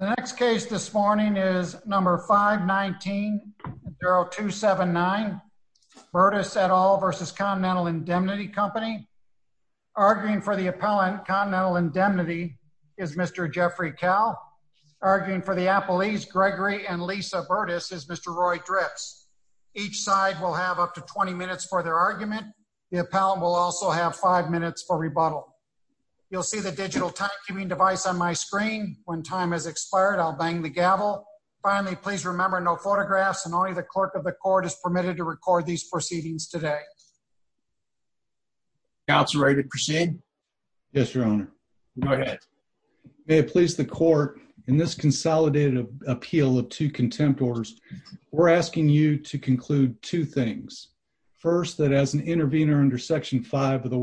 The next case this morning is number 519, Bureau 279, Burdess et al. v. Continental Indemnity Company. Arguing for the appellant, Continental Indemnity, is Mr. Jeffrey Cowell. Arguing for the appellees, Gregory and Lisa Burdess, is Mr. Roy Drips. Each side will have up to 20 minutes for their argument. The appellant will also have five minutes for rebuttal. You'll see the digital time-keeping device on my screen. When time has expired, I'll bang the gavel. Finally, please remember no photographs and only the clerk of the court is permitted to record these proceedings today. Councilor, are you ready to proceed? Yes, Your Honor. Go ahead. May it please the court, in this consolidated appeal of two contempt orders, we're asking you to conclude two things. First, that as an intervener under Section 5 of the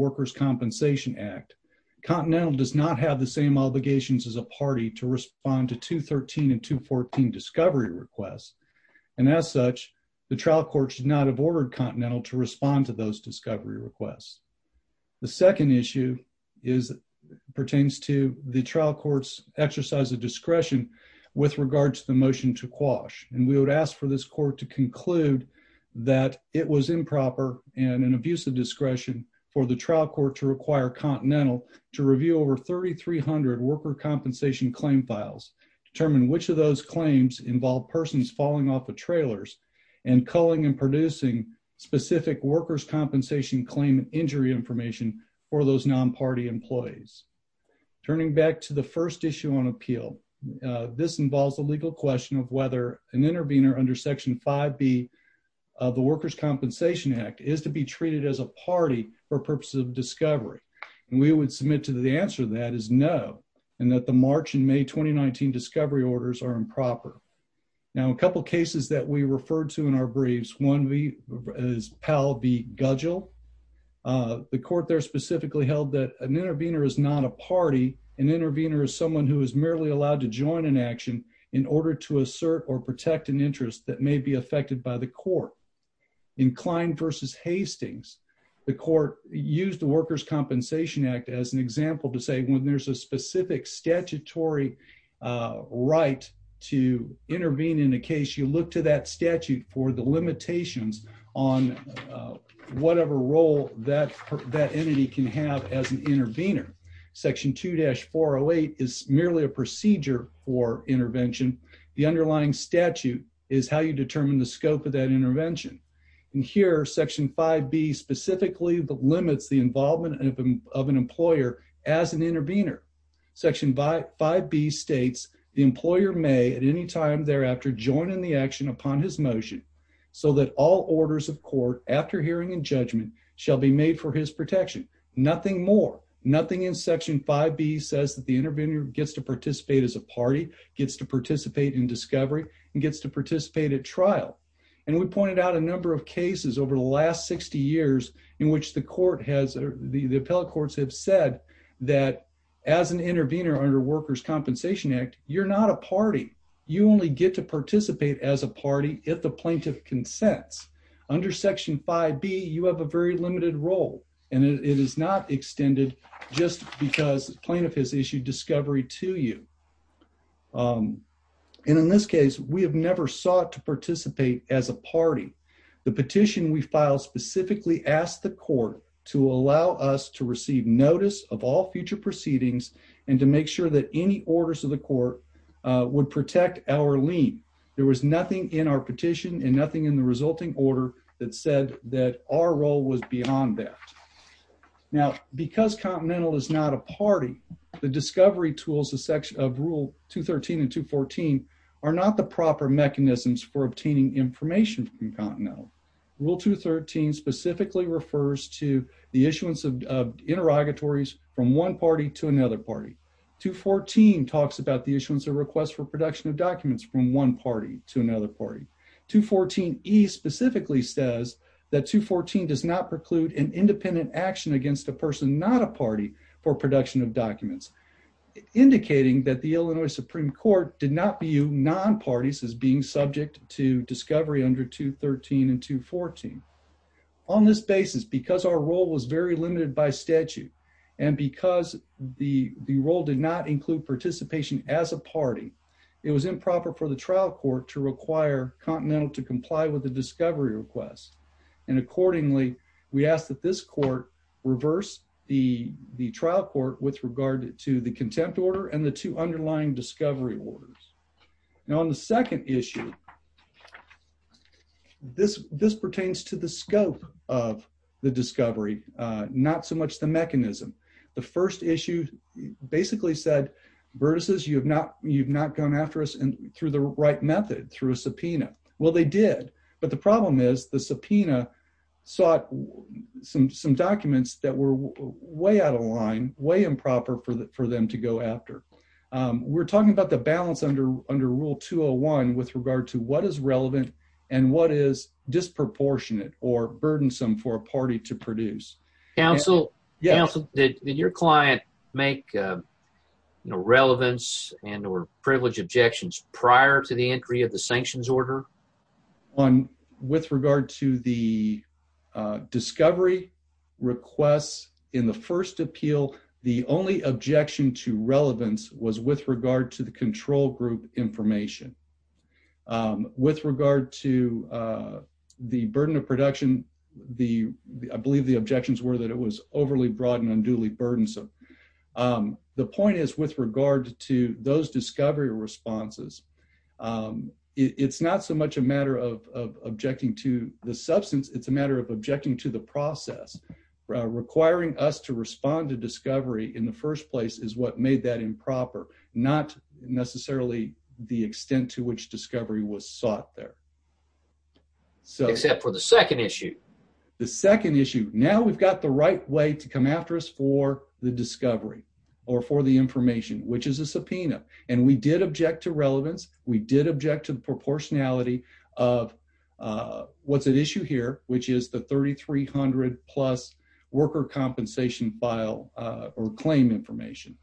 same obligations as a party to respond to 213 and 214 discovery requests, and as such, the trial court should not have ordered Continental to respond to those discovery requests. The second issue pertains to the trial court's exercise of discretion with regard to the motion to quash, and we would ask for this court to conclude that it was improper and an abuse of discretion for the trial court to require Continental to review over 3,300 worker compensation claim files, determine which of those claims involve persons falling off the trailers, and culling and producing specific workers' compensation claim injury information for those non-party employees. Turning back to the first issue on appeal, this involves a legal question of whether an intervener under Section 5B of the Workers' Compensation Act is to be treated as a party for purposes of discovery, and we would submit to the answer that is no, and that the March and May 2019 discovery orders are improper. Now, a couple cases that we referred to in our briefs, one is Powell v. Gudgell. The court there specifically held that an intervener is not a party. An intervener is someone who is merely allowed to join an action in order to assert or protect an interest that may be affected by the court. In Klein v. Hastings, the court used the Workers' Compensation Act as an example to say when there's a specific statutory right to intervene in a case, you look to that statute for the limitations on whatever role that that entity can have as an intervener. Section 2-408 is how you determine the scope of that intervention. And here, Section 5B specifically limits the involvement of an employer as an intervener. Section 5B states the employer may at any time thereafter join in the action upon his motion so that all orders of court after hearing and judgment shall be made for his protection. Nothing more. Nothing in Section 5B says that the intervener gets to participate as a party, gets to participate in discovery, and gets to participate at trial. And we pointed out a number of cases over the last 60 years in which the court has, the appellate courts have said that as an intervener under Workers' Compensation Act, you're not a party. You only get to participate as a party if the plaintiff consents. Under Section 5B, you have a very limited role, and it is not extended just because plaintiff has issued discovery to you. And in this case, we have never sought to participate as a party. The petition we filed specifically asked the court to allow us to receive notice of all future proceedings and to make sure that any orders of the court would protect our lien. There was nothing in our petition and nothing in the resulting order that said that our role was beyond that. Now, because Continental is not a party, the discovery tools of Rule 213 and 214 are not the proper mechanisms for obtaining information from Continental. Rule 213 specifically refers to the issuance of interrogatories from one party to another party. 214 talks about the issuance of requests for production of documents from one party to another party. 214E specifically says that 214 does not for production of documents, indicating that the Illinois Supreme Court did not view non parties as being subject to discovery under 213 and 214. On this basis, because our role was very limited by statute and because the role did not include participation as a party, it was improper for the trial court to require Continental to comply with the discovery request. And accordingly, we did not require the trial court with regard to the contempt order and the two underlying discovery orders. Now, on the second issue, this pertains to the scope of the discovery, not so much the mechanism. The first issue basically said, Burtis, you have not gone after us through the right method, through a subpoena. Well, they did. But the problem is the subpoena sought some documents that were way out of line, way improper for them to go after. We're talking about the balance under rule 201 with regard to what is relevant and what is disproportionate or burdensome for a party to produce. Counsel, did your client make relevance and or privilege objections prior to the entry of the first appeal? The only objection to relevance was with regard to the control group information with regard to the burden of production. The I believe the objections were that it was overly broad and unduly burdensome. Um, the point is, with regard to those discovery responses, um, it's not so much a matter of objecting to the substance. It's a matter of objecting to the process requiring us to respond to discovery in the first place is what made that improper, not necessarily the extent to which discovery was sought there. So except for the second issue, the second issue. Now we've got the right way to come after us for the discovery or for the information, which is a subpoena. And we did object to relevance. We did object to the portionality of, uh, what's at issue here, which is the 3300 plus worker compensation file or claim information.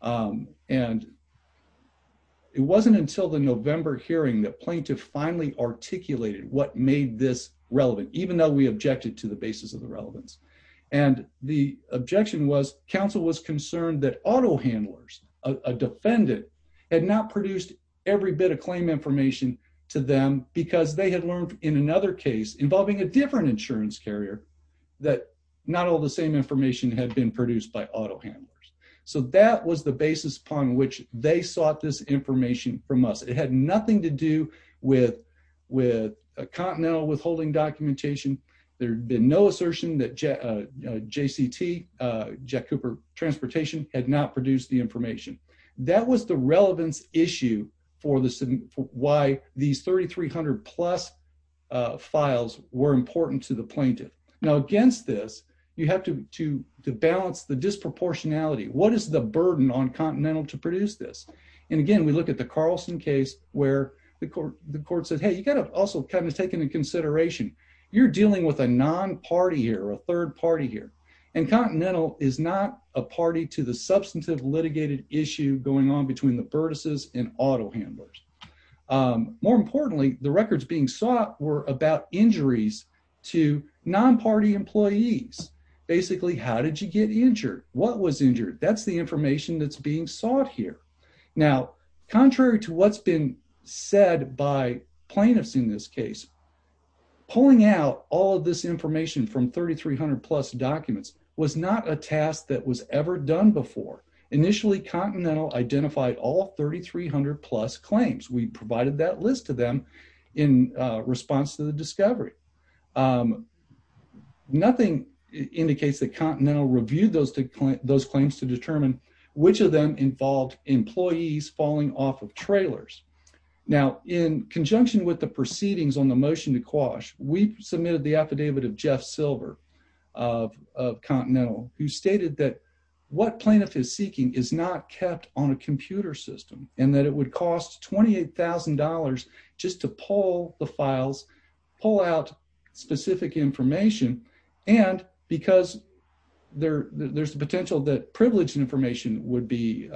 Um, and it wasn't until the November hearing that plaintiff finally articulated what made this relevant, even though we objected to the basis of the relevance. And the objection was council was concerned that auto handlers, a defendant had not produced every bit of claim information to them because they had learned in another case involving a different insurance carrier that not all the same information had been produced by auto handlers. So that was the basis upon which they sought this information from us. It had nothing to do with with continental withholding documentation. There had been no assertion that J. J. C. T. Uh, Jack Cooper Transportation had not produced the information. That was the relevance issue for the why these 3300 plus, uh, files were important to the plaintiff. Now, against this, you have to to to balance the disproportionality. What is the burden on continental to produce this? And again, we look at the Carlson case where the court the court said, Hey, you gotta also kind of taken into consideration. You're dealing with a non party here, a third party here, and continental is not a party to the substantive litigated issue going on between the vertices and auto handlers. Um, more importantly, the records being sought were about injuries to non party employees. Basically, how did you get injured? What was injured? That's the information that's being sought here. Now, contrary to what's been said by plaintiffs in this case, pulling out all of this information from 3300 plus documents was not a task that was ever done before. Initially, Continental identified all 3300 plus claims. We provided that list of them in response to the discovery. Um, nothing indicates that Continental reviewed those those claims to determine which of them involved employees falling off of trailers. Now, in conjunction with the proceedings on the motion to quash, we of Continental, who stated that what plaintiff is seeking is not kept on a computer system and that it would cost $28,000 just to pull the files, pull out specific information. And because there there's the potential that privilege information would be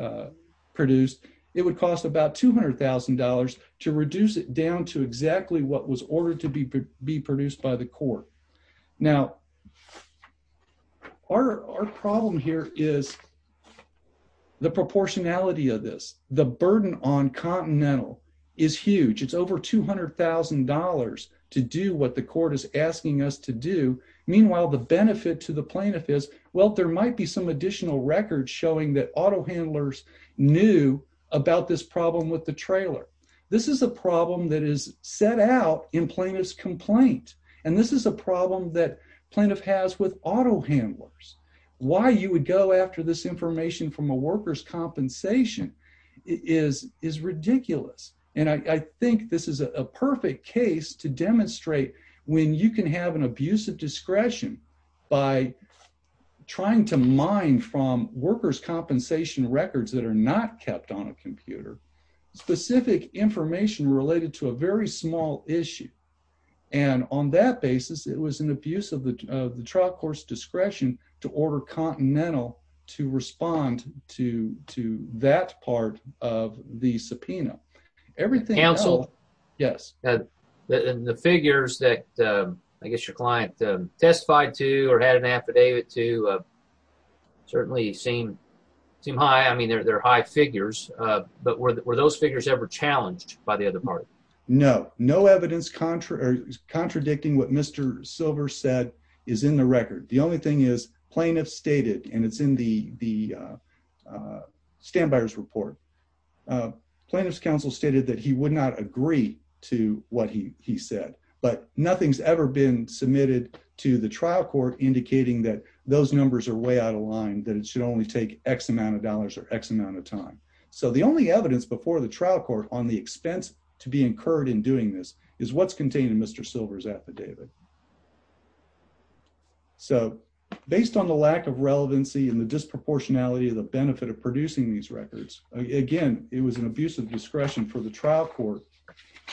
produced, it would cost about $200,000 to reduce it down to exactly what was ordered to be be produced by the court. Now, our problem here is the proportionality of this. The burden on Continental is huge. It's over $200,000 to do what the court is asking us to do. Meanwhile, the benefit to the plaintiff is, well, there might be some additional records showing that auto handlers knew about this problem with the trailer. This is a problem that is set out in plaintiff's complaint. And this is a problem that plaintiff has with auto handlers. Why you would go after this information from a worker's compensation is is ridiculous. And I think this is a perfect case to demonstrate when you can have an abusive discretion by trying to mine from workers compensation records that are not kept on a computer specific information related to a very small issue. And on that basis, it was an abuse of the trial course discretion to order Continental to respond to to that part of the subpoena. Everything else. Yes, the figures that I guess your client testified to or had an affidavit to certainly seem seem high. I mean, they're high figures. But were those figures ever challenged by the other party? No, no evidence. Contra is contradicting what Mr Silver said is in the record. The only thing is plaintiff stated, and it's in the the, uh, stand buyers report. Uh, plaintiff's counsel stated that he would not agree to what he he said. But nothing's ever been submitted to the trial court, indicating that those numbers are way out of line, that it should only take X amount of dollars or X amount of time. So the only evidence before the trial court on the expense to be incurred in doing this is what's contained in Mr Silver's affidavit. So based on the lack of relevancy in the disproportionality of the benefit of producing these records again, it was an abusive discretion for the trial court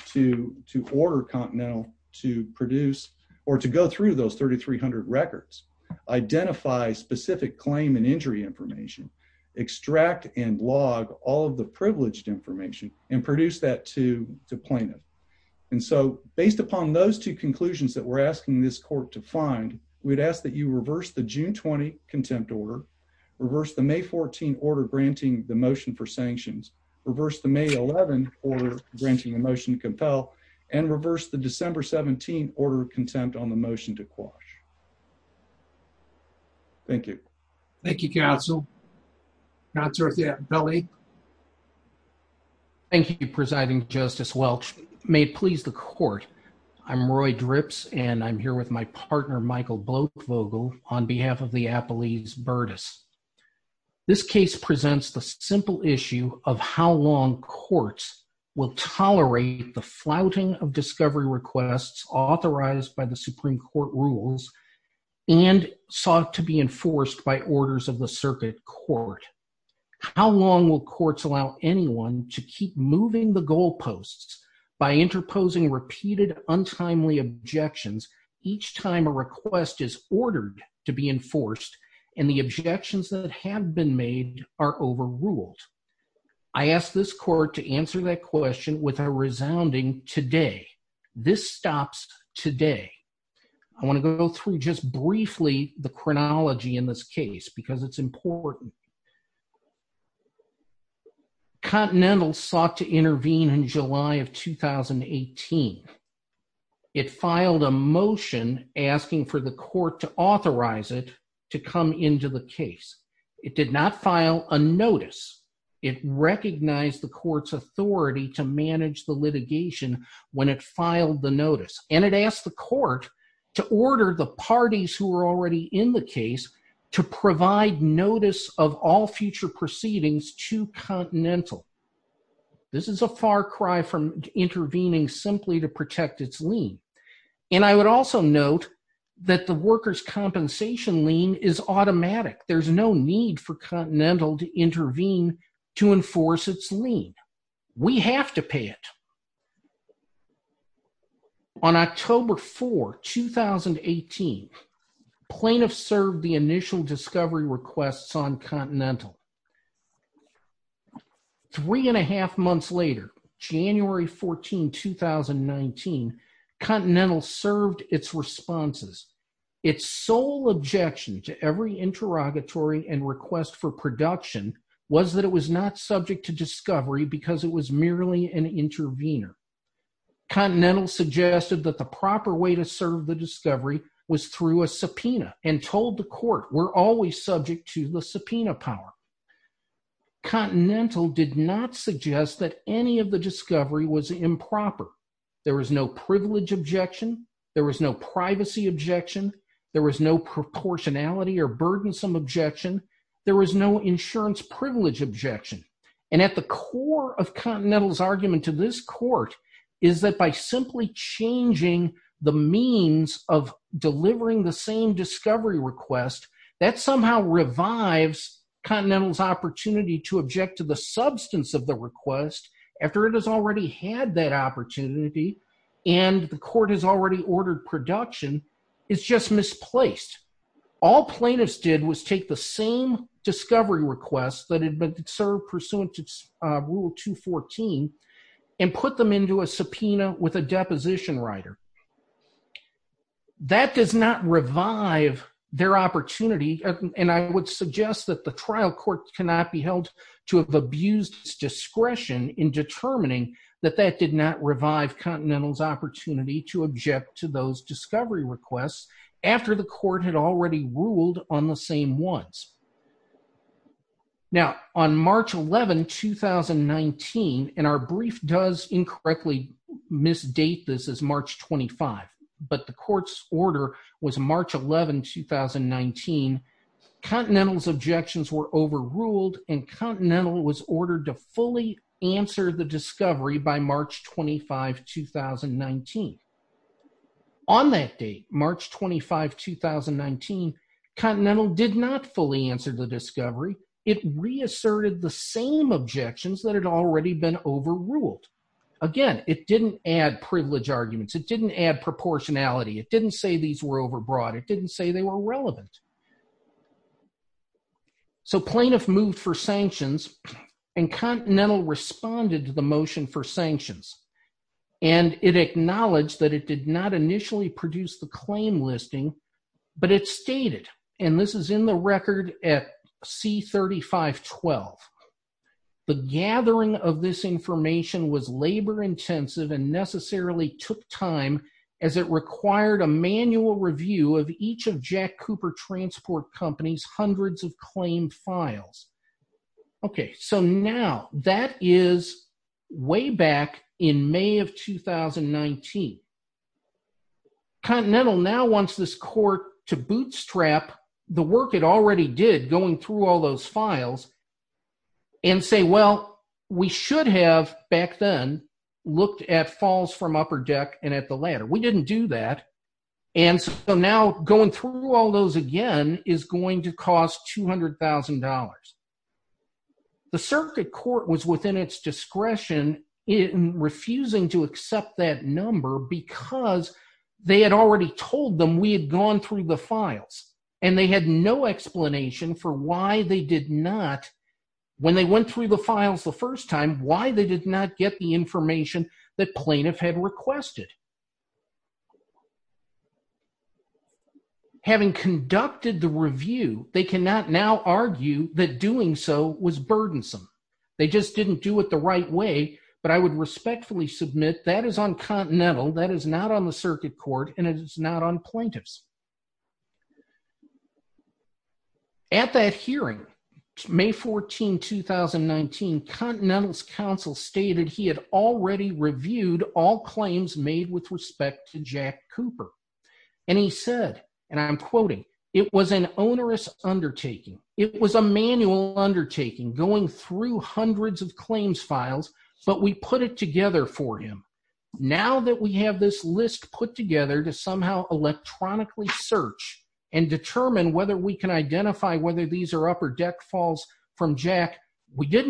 to to order Continental to produce or to go through those 3300 records, identify specific claim and injury information, extract and log all of the privileged information and produce that to plaintiff. And so based upon those two conclusions that we're asking this court to find, we'd ask that you reverse the June 20 contempt order, reverse the May 14 order granting the motion for sanctions, reverse the May 11 or granting emotion compel and reverse the December 17 order of contempt on the motion to quash. Thank you. Thank you, Council. That's Earth. Yeah, belly. Thank you, Presiding Justice Welch. May it please the court. I'm Roy drips, and I'm here with my partner, Michael Bloat Vogel on behalf of the Appalachians Burdess. This case presents the simple issue of how long courts will tolerate the flouting of discovery requests authorized by the Supreme Court rules and sought to be enforced by orders of the circuit court. How long will courts allow anyone to keep moving the goalposts by interposing repeated untimely objections each time a request is ordered to be enforced and the objections that have been made are overruled? I asked this court to answer that question with a resounding today. This stops today. I want to go through just briefly the chronology in this case because it's important. Continental sought to intervene in July of 2018. It filed a motion asking for the court to authorize it to come into the case. It did not file a notice. It recognized the court's authority to manage the litigation when it filed the notice, and it asked the court to order the parties who were already in the future proceedings to Continental. This is a far cry from intervening simply to protect its lien, and I would also note that the workers' compensation lien is automatic. There's no need for Continental to intervene to enforce its lien. We have to pay it. On October 4, 2018, plaintiffs served the initial discovery requests on Continental. Three and a half months later, January 14, 2019, Continental served its responses. Its sole objection to every interrogatory and request for production was that it was not subject to discovery because it was merely an intervener. Continental suggested that the proper way to serve the discovery was through a subpoena and told the court, we're always subject to the subpoena power. Continental did not suggest that any of the discovery was improper. There was no privilege objection. There was no privacy objection. There was no proportionality or burdensome objection. There was no insurance privilege objection, and at the core of Continental's argument to this of delivering the same discovery request, that somehow revives Continental's opportunity to object to the substance of the request after it has already had that opportunity and the court has already ordered production. It's just misplaced. All plaintiffs did was take the same discovery request that had been served pursuant to Rule 214 and put them into a subpoena with a deposition writer. That does not revive their opportunity, and I would suggest that the trial court cannot be held to have abused its discretion in determining that that did not revive Continental's opportunity to object to those discovery requests after the court had already ruled on the same ones. Now, on March 11, 2019, and our brief does incorrectly misdate this as March 25, but the court's order was March 11, 2019. Continental's objections were overruled, and Continental was ordered to fully answer the discovery by March 25, 2019. On that date, March 25, 2019, Continental did not fully answer the discovery. It reasserted the same objections that had already been overruled. Again, it didn't add privilege arguments. It didn't add proportionality. It didn't say these were overbroad. It didn't say they were relevant. So plaintiff moved for sanctions, and Continental responded to the motion for sanctions, and it acknowledged that it did not initially produce the claim listing, but it stated, and this is in the record at C3512, the gathering of this information was labor-intensive and necessarily took time as it required a manual review of each of Jack Cooper Transport Company's hundreds of claimed files. Okay, so now that is way back in May of 2019. Continental now wants this court to bootstrap the work it already did going through all those files and say, well, we should have, back then, looked at falls from upper deck and at the ladder. We didn't do that, and so now going through all those again is going to cost $200,000. The circuit court was within its discretion in refusing to accept that number because they had already told them we had gone through the files, and they had no explanation for why they did not, when they went through the files the first time, why they did not get the information that plaintiff had requested. Having conducted the review, they cannot now argue that doing so was burdensome. They just didn't do it the right way, but I would respectfully submit that is on Continental, that is not on the circuit court, and it is not on plaintiffs. At that hearing, May 14, 2019, Continental's counsel stated he had already reviewed all claims made with respect to Jack Cooper, and he said, and I'm quoting, it was an onerous undertaking. It was a manual undertaking going through hundreds of claims files, but we put it together for him. Now that we have this list put together to somehow electronically search and determine whether we can identify whether these are upper deck falls from Jack, we the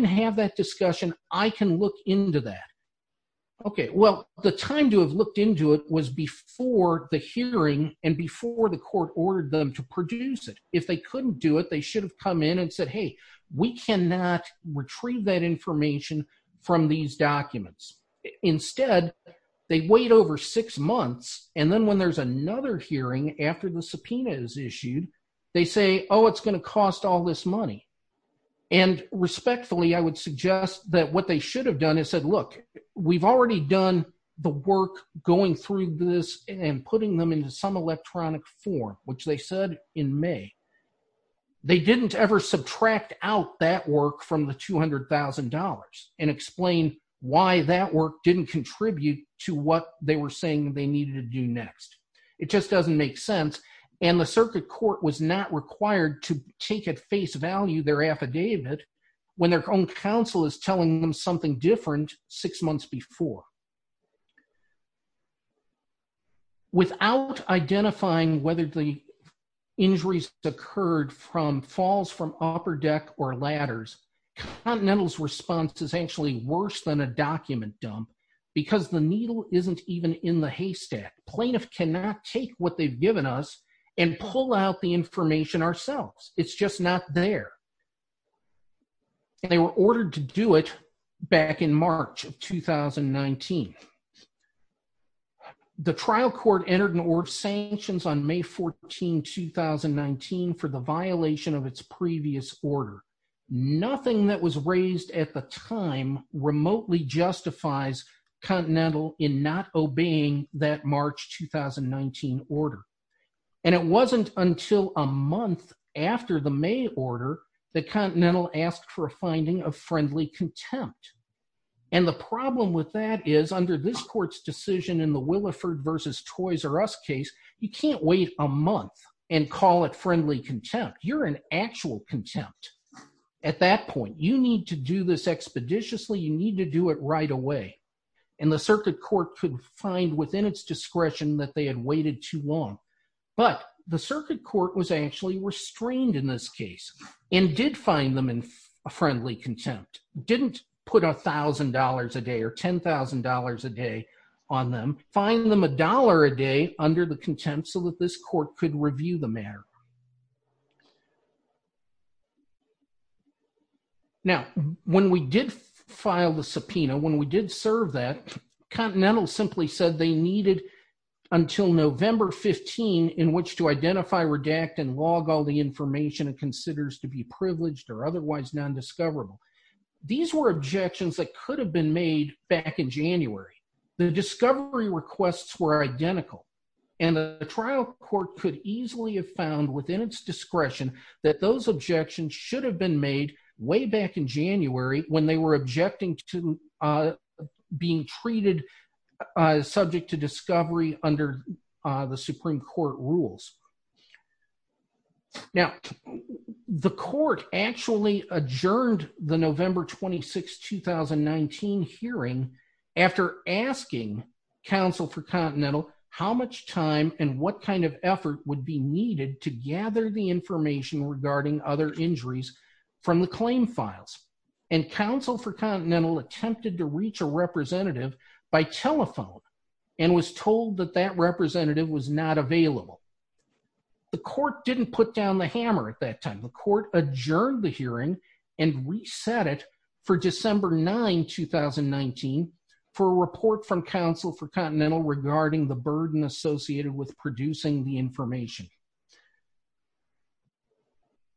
time to have looked into it was before the hearing and before the court ordered them to produce it. If they couldn't do it, they should have come in and said, hey, we cannot retrieve that information from these documents. Instead, they wait over six months, and then when there's another hearing after the subpoena is issued, they say, oh, it's gonna cost all this money, and respectfully, I would suggest that what they should have done is said, look, we've already done the work going through this and putting them into some electronic form, which they said in May. They didn't ever subtract out that work from the $200,000 and explain why that work didn't contribute to what they were saying they needed to do next. It just doesn't make sense, and the circuit court was not required to take at face value their affidavit when their own counsel is telling them something different six months before. Without identifying whether the injuries occurred from falls from upper deck or ladders, Continental's response is actually worse than a document dump because the needle isn't even in the haystack. Plaintiff cannot take what they've given us and pull out the information ourselves. It's just not there. They were ordered to do it back in March of 2019. The trial court entered an order of sanctions on May 14, 2019 for the violation of its previous order. Nothing that was raised at the time remotely justifies Continental in not obeying that March 2019 order, and it wasn't until a month after the trial that Continental asked for a finding of friendly contempt. And the problem with that is, under this court's decision in the Williford versus Toys R Us case, you can't wait a month and call it friendly contempt. You're in actual contempt at that point. You need to do this expeditiously. You need to do it right away, and the circuit court could find within its discretion that they had waited too long. But the circuit court was actually restrained in this case and did find them in a friendly contempt. Didn't put $1,000 a day or $10,000 a day on them, find them a dollar a day under the contempt so that this court could review the matter. Now, when we did file the subpoena, when we did serve that, Continental simply said they needed until November 15 in which to identify, redact, and log all the information it considers to be privileged or otherwise nondiscoverable. These were objections that could have been made back in January. The discovery requests were identical, and the trial court could easily have found within its discretion that those objections should have been made way back in January when they were objecting to being treated subject to discovery under the Supreme Court rules. Now, the court actually adjourned the November 26, 2019 hearing after asking counsel for Continental how much time and what kind of effort would be needed to gather the information regarding other files, and counsel for Continental attempted to reach a representative by telephone and was told that that representative was not available. The court didn't put down the hammer at that time. The court adjourned the hearing and reset it for December 9, 2019 for a report from counsel for Continental regarding the burden associated with producing the information.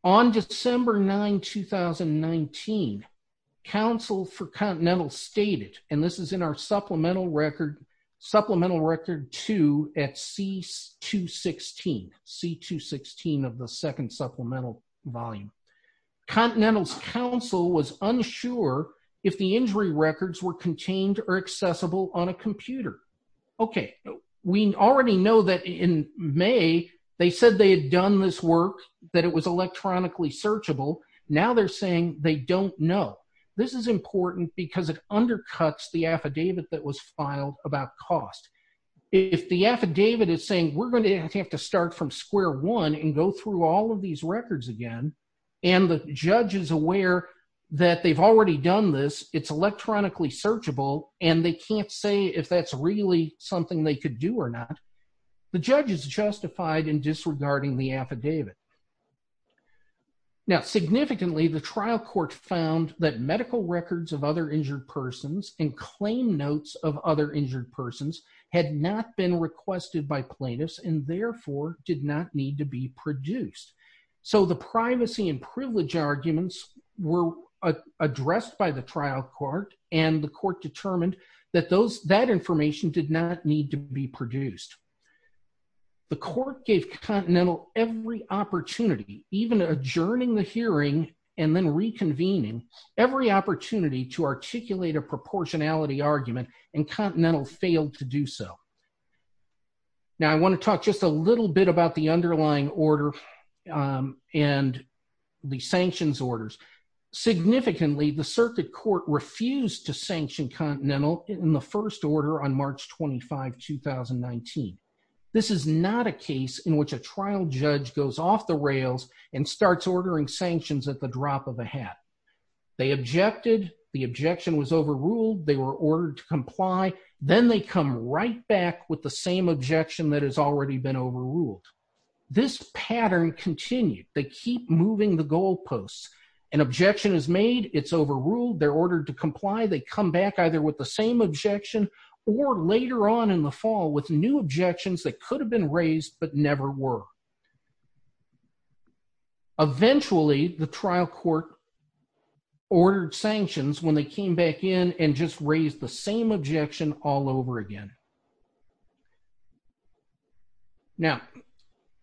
On December 9, 2019, counsel for Continental stated, and this is in our supplemental record, supplemental record 2 at C216, C216 of the second supplemental volume, Continental's counsel was unsure if the injury records were contained or accessible on a computer. Okay, we already know that in May, they said they had done this work, that it was electronically searchable. Now, they're saying they don't know. This is important because it undercuts the affidavit that was filed about cost. If the affidavit is saying we're going to have to start from square one and go through all of these records again, and the judge is aware that they've already done this, it's electronically searchable, and they can't say if that's really something they could do or not, the judge is going to have to look at the affidavit. Now, significantly, the trial court found that medical records of other injured persons and claim notes of other injured persons had not been requested by plaintiffs and, therefore, did not need to be produced. So, the privacy and privilege arguments were addressed by the trial court, and the court determined that those, that information did not need to be produced. The court gave Continental every opportunity, even adjourning the hearing and then reconvening, every opportunity to articulate a proportionality argument, and Continental failed to do so. Now, I want to talk just a little bit about the underlying order and the sanctions orders. Significantly, the circuit court refused to sanction Continental in the first order on March 25, 2019. This is not a case in which a trial judge goes off the rails and starts ordering sanctions at the drop of a hat. They objected, the objection was overruled, they were ordered to comply, then they come right back with the same objection that has already been overruled. This pattern continued. They keep moving the overruled, they're ordered to comply, they come back either with the same objection or, later on in the fall, with new objections that could have been raised but never were. Eventually, the trial court ordered sanctions when they came back in and just raised the same objection all over again. Now,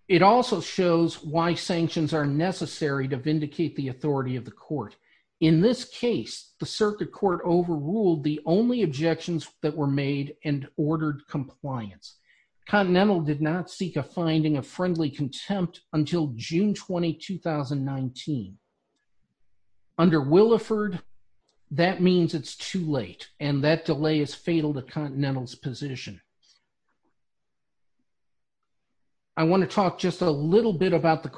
it also shows why sanctions are necessary to vindicate the authority of the court. In this case, the circuit court overruled the only objections that were made and ordered compliance. Continental did not seek a finding of friendly contempt until June 20, 2019. Under Williford, that means it's too late and that delay is fatal to Continental's position. I want to talk just a little bit about the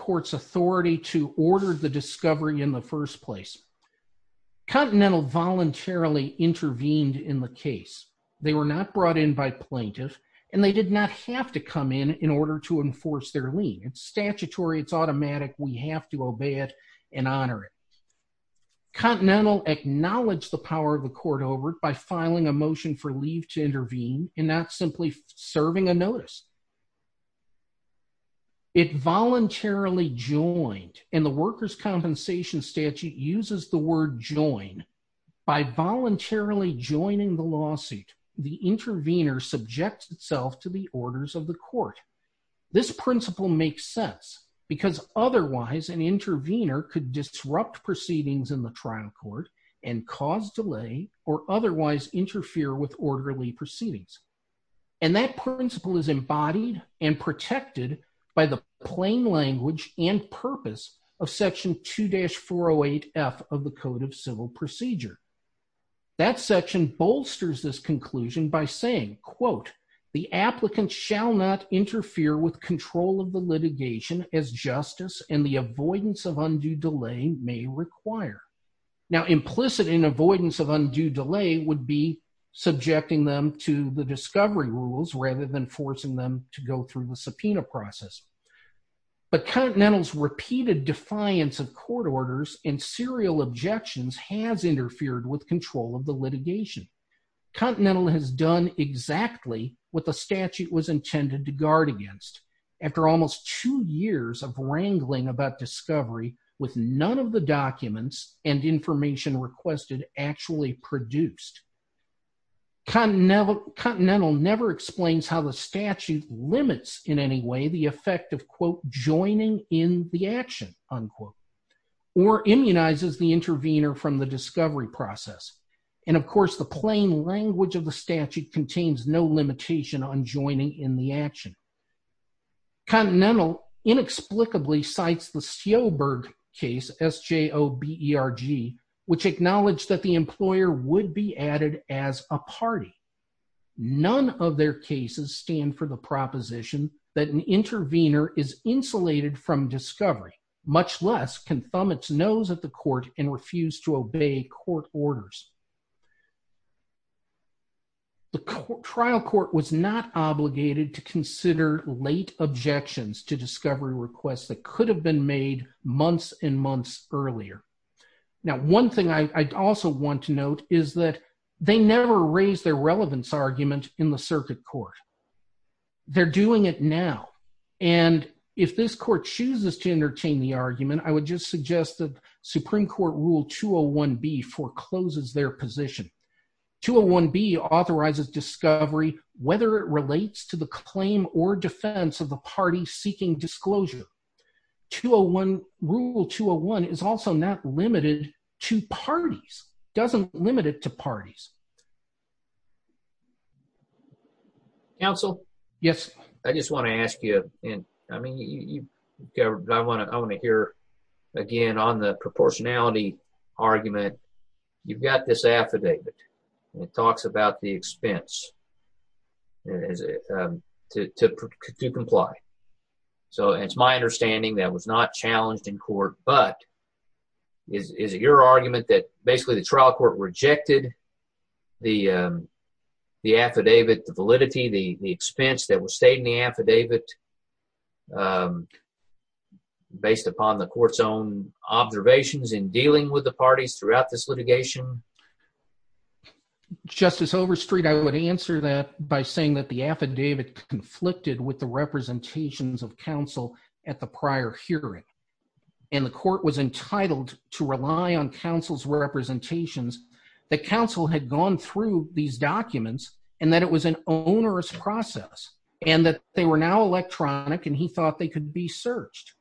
Continental voluntarily intervened in the case. They were not brought in by plaintiff and they did not have to come in in order to enforce their lien. It's statutory, it's automatic, we have to obey it and honor it. Continental acknowledged the power of the court over it by filing a motion for leave to intervene and not simply serving a notice. It voluntarily joined and the workers' compensation statute uses the word join. By voluntarily joining the lawsuit, the intervener subjects itself to the orders of the court. This principle makes sense because otherwise an intervener could disrupt proceedings in the trial court and cause delay or otherwise interfere with orderly proceedings. And that principle is embodied and protected by the plain language and purpose of section 2-408F of the Code of Civil Procedure. That section bolsters this conclusion by saying, quote, the applicant shall not interfere with control of the litigation as justice and the avoidance of undue delay may require. Now implicit in avoidance of undue delay would be subjecting them to the discovery rules rather than forcing them to go through the subpoena process. But Continental's repeated defiance of court orders and serial objections has interfered with control of the litigation. Continental has done exactly what the statute was intended to guard against. After almost two years of wrangling about discovery with none of the documents and information requested actually produced, Continental never explains how the statute limits in any way the effect of, quote, joining in the action, unquote, or immunizes the intervener from the discovery process. And of course the plain language of the statute contains no limitation on joining in the action. Continental inexplicably cites the Sjoberg case, S-J-O-B-E-R-G, which acknowledged that the employer would be added as a party. None of their cases stand for the proposition that an intervener is insulated from discovery, much less can thumb its nose at the court and refuse to obey court orders. The trial court was not obligated to consider late objections to discovery requests that could have been made months and months earlier. Now one thing I'd also want to note is that they never raised their relevance argument in the And if this court chooses to entertain the argument, I would just suggest that Supreme Court Rule 201-B forecloses their position. 201-B authorizes discovery whether it relates to the claim or defense of the party seeking disclosure. Rule 201 is also not limited to parties, doesn't limit it to I want to hear again on the proportionality argument. You've got this affidavit. It talks about the expense to comply. So it's my understanding that was not challenged in court, but is it your argument that basically the trial court rejected the affidavit, the validity, the expense that was stated in the affidavit based upon the court's own observations in dealing with the parties throughout this litigation? Justice Overstreet, I would answer that by saying that the affidavit conflicted with the representations of counsel at the prior hearing, and the court was entitled to rely on counsel's representations, that counsel had gone through these documents, and that it was an onerous process, and that they were now electronic, and he thought they could be searched.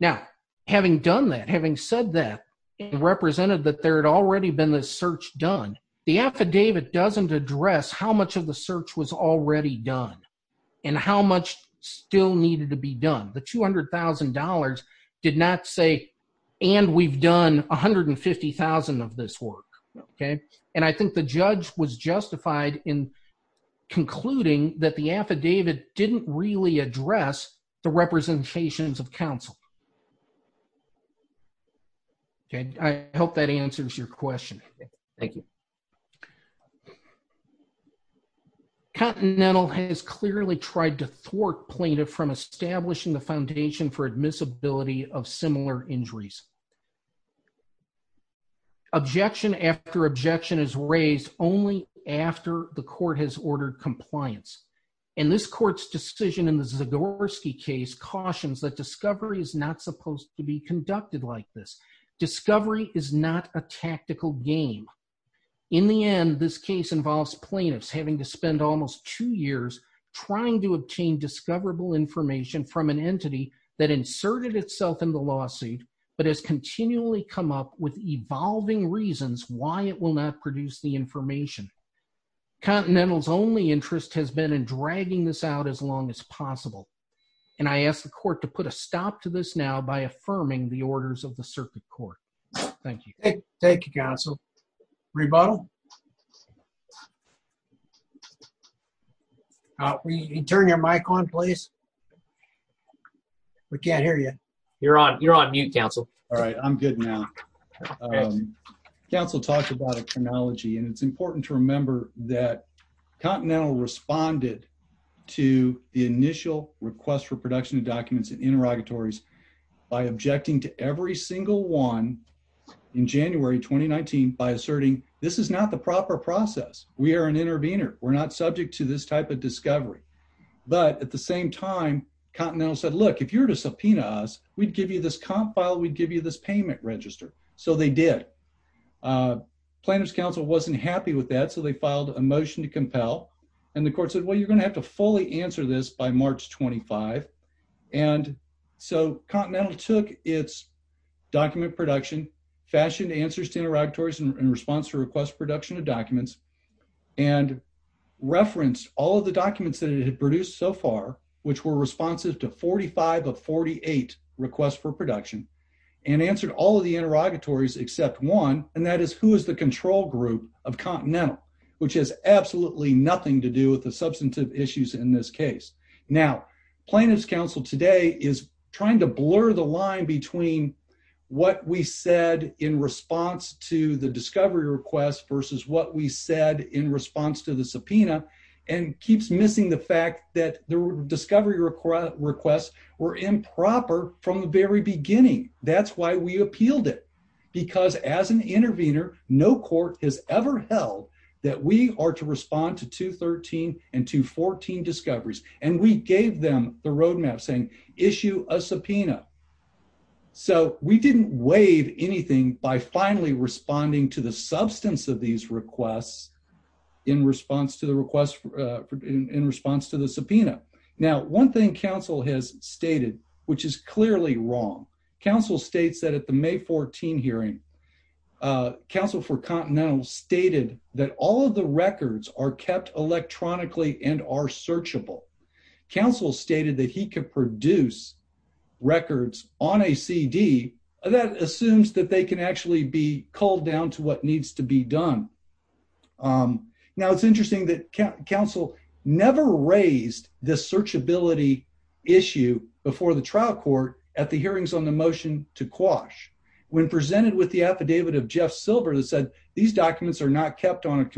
Now, having done that, having said that, it represented that there had already been this search done. The affidavit doesn't address how much of the search was already done, and how much still needed to be done. The $200,000 did not say, and we've done 150,000 of this work, okay? And I think the judge was concluding that the affidavit didn't really address the representations of counsel. Okay, I hope that answers your question. Thank you. Continental has clearly tried to thwart plaintiff from establishing the foundation for admissibility of similar injuries. Objection after objection is raised only after the court has ordered compliance, and this court's decision in the Zagorski case cautions that discovery is not supposed to be conducted like this. Discovery is not a tactical game. In the end, this case involves plaintiffs having to spend almost two years trying to obtain discoverable information from an entity that inserted itself in the lawsuit, but has continually come up with evolving reasons why it will not produce the information. Continental's only interest has been in dragging this out as long as possible, and I ask the court to put a stop to this now by affirming the orders of the circuit court. Thank you. Thank you, counsel. Rebuttal? Can you turn your mic on, please? We can't hear you. You're on, you're on mute, counsel. All right, I'm good now. Counsel talked about a chronology, and it's important to remember that Continental responded to the initial request for production of documents and interrogatories by objecting to every single one in January 2019 by asserting this is not the proper process. We are an intervener. We're not subject to this type of discovery. But at the same time, Continental said, Look, if you're to subpoena us, we'd give you this comp file. We'd give you this payment register. So they did. Uh, plaintiff's counsel wasn't happy with that, so they filed a motion to compel, and the court said, Well, you're gonna have to fully answer this by March 25. And so Continental took its document production, fashioned answers to interrogatories in response to request production of documents and referenced all of the documents that it had produced so far, which were responsive to 45 of 48 requests for production and answered all of the interrogatories except one. And that is who is the control group of Continental, which has absolutely nothing to do with the substantive issues in this case. Now, plaintiff's counsel today is trying to blur the line between what we said in response to the discovery request versus what we said in response to the subpoena and keeps missing the fact that the discovery request requests were improper from the very beginning. That's why we appealed it, because as an intervener, no court has ever held that we are to respond to 2 13 and to 14 discoveries, and we gave them the road map saying issue a subpoena. So we didn't waive anything by finally responding to the substance of these requests in response to the request in response to the subpoena. Now, one thing Council has stated, which is clearly wrong. Council states that at the May 14 hearing, uh, Council for Continental stated that all of the searchable. Council stated that he could produce records on a C D. That assumes that they can actually be called down to what needs to be done. Um, now it's interesting that Council never raised the search ability issue before the trial court at the hearings on the motion to quash when presented with the affidavit of Jeff Silver that said these documents are not kept on a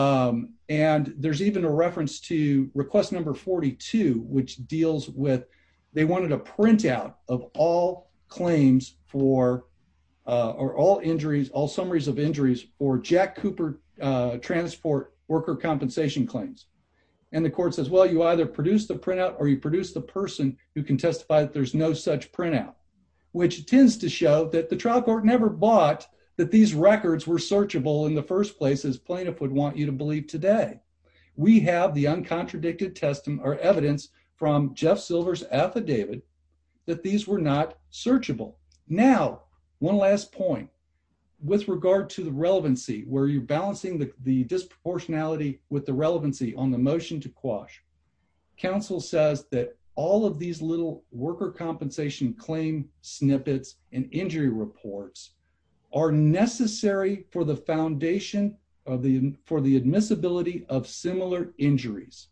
Um, and there's even a reference to request number 42, which deals with they wanted a print out of all claims for all injuries, all summaries of injuries or Jack Cooper transport worker compensation claims. And the court says, Well, you either produce the print out or you produce the person who can testify that there's no such print out, which tends to show that the trial court never bought that these records were searchable in the first places plaintiff would want you to believe. Today we have the uncontradicted testing or evidence from Jeff Silver's affidavit that these were not searchable. Now, one last point with regard to the relevancy where you're balancing the disproportionality with the relevancy on the motion to quash. Council says that all of these little worker compensation claim snippets and injury reports are necessary for the foundation of the for the admissibility of similar injuries.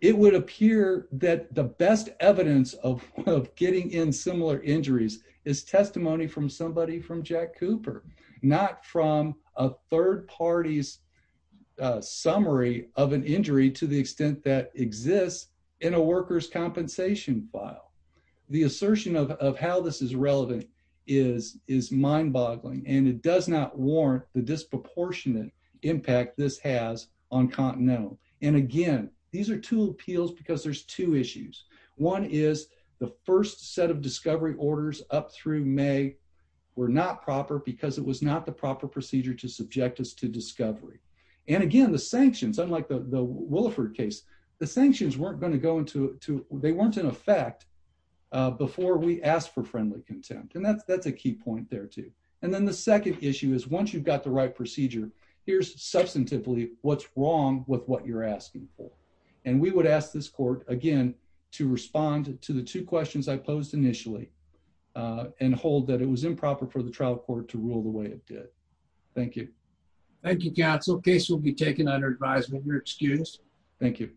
It would appear that the best evidence of getting in similar injuries is testimony from somebody from Jack Cooper, not from a third parties summary of an injury to the extent that exists in a workers compensation file. The assertion of how this is relevant is is mind boggling, and it does not warrant the disproportionate impact this has on Continental. And again, these are two appeals because there's two issues. One is the first set of discovery orders up through May were not proper because it was not the proper procedure to subject us to discovery. And again, the sanctions, unlike the Williford case, the sanctions weren't going to go into they weren't in effect before we asked for friendly contempt. And that's a key point there, too. And then the second issue is once you've got the right procedure, here's substantively what's wrong with what you're asking for. And we would ask this court again to respond to the two questions I posed initially and hold that it was improper for the trial court to rule the way it did. Thank you. Thank you, Council. Case will be taken under advisement. You're excused. Thank you.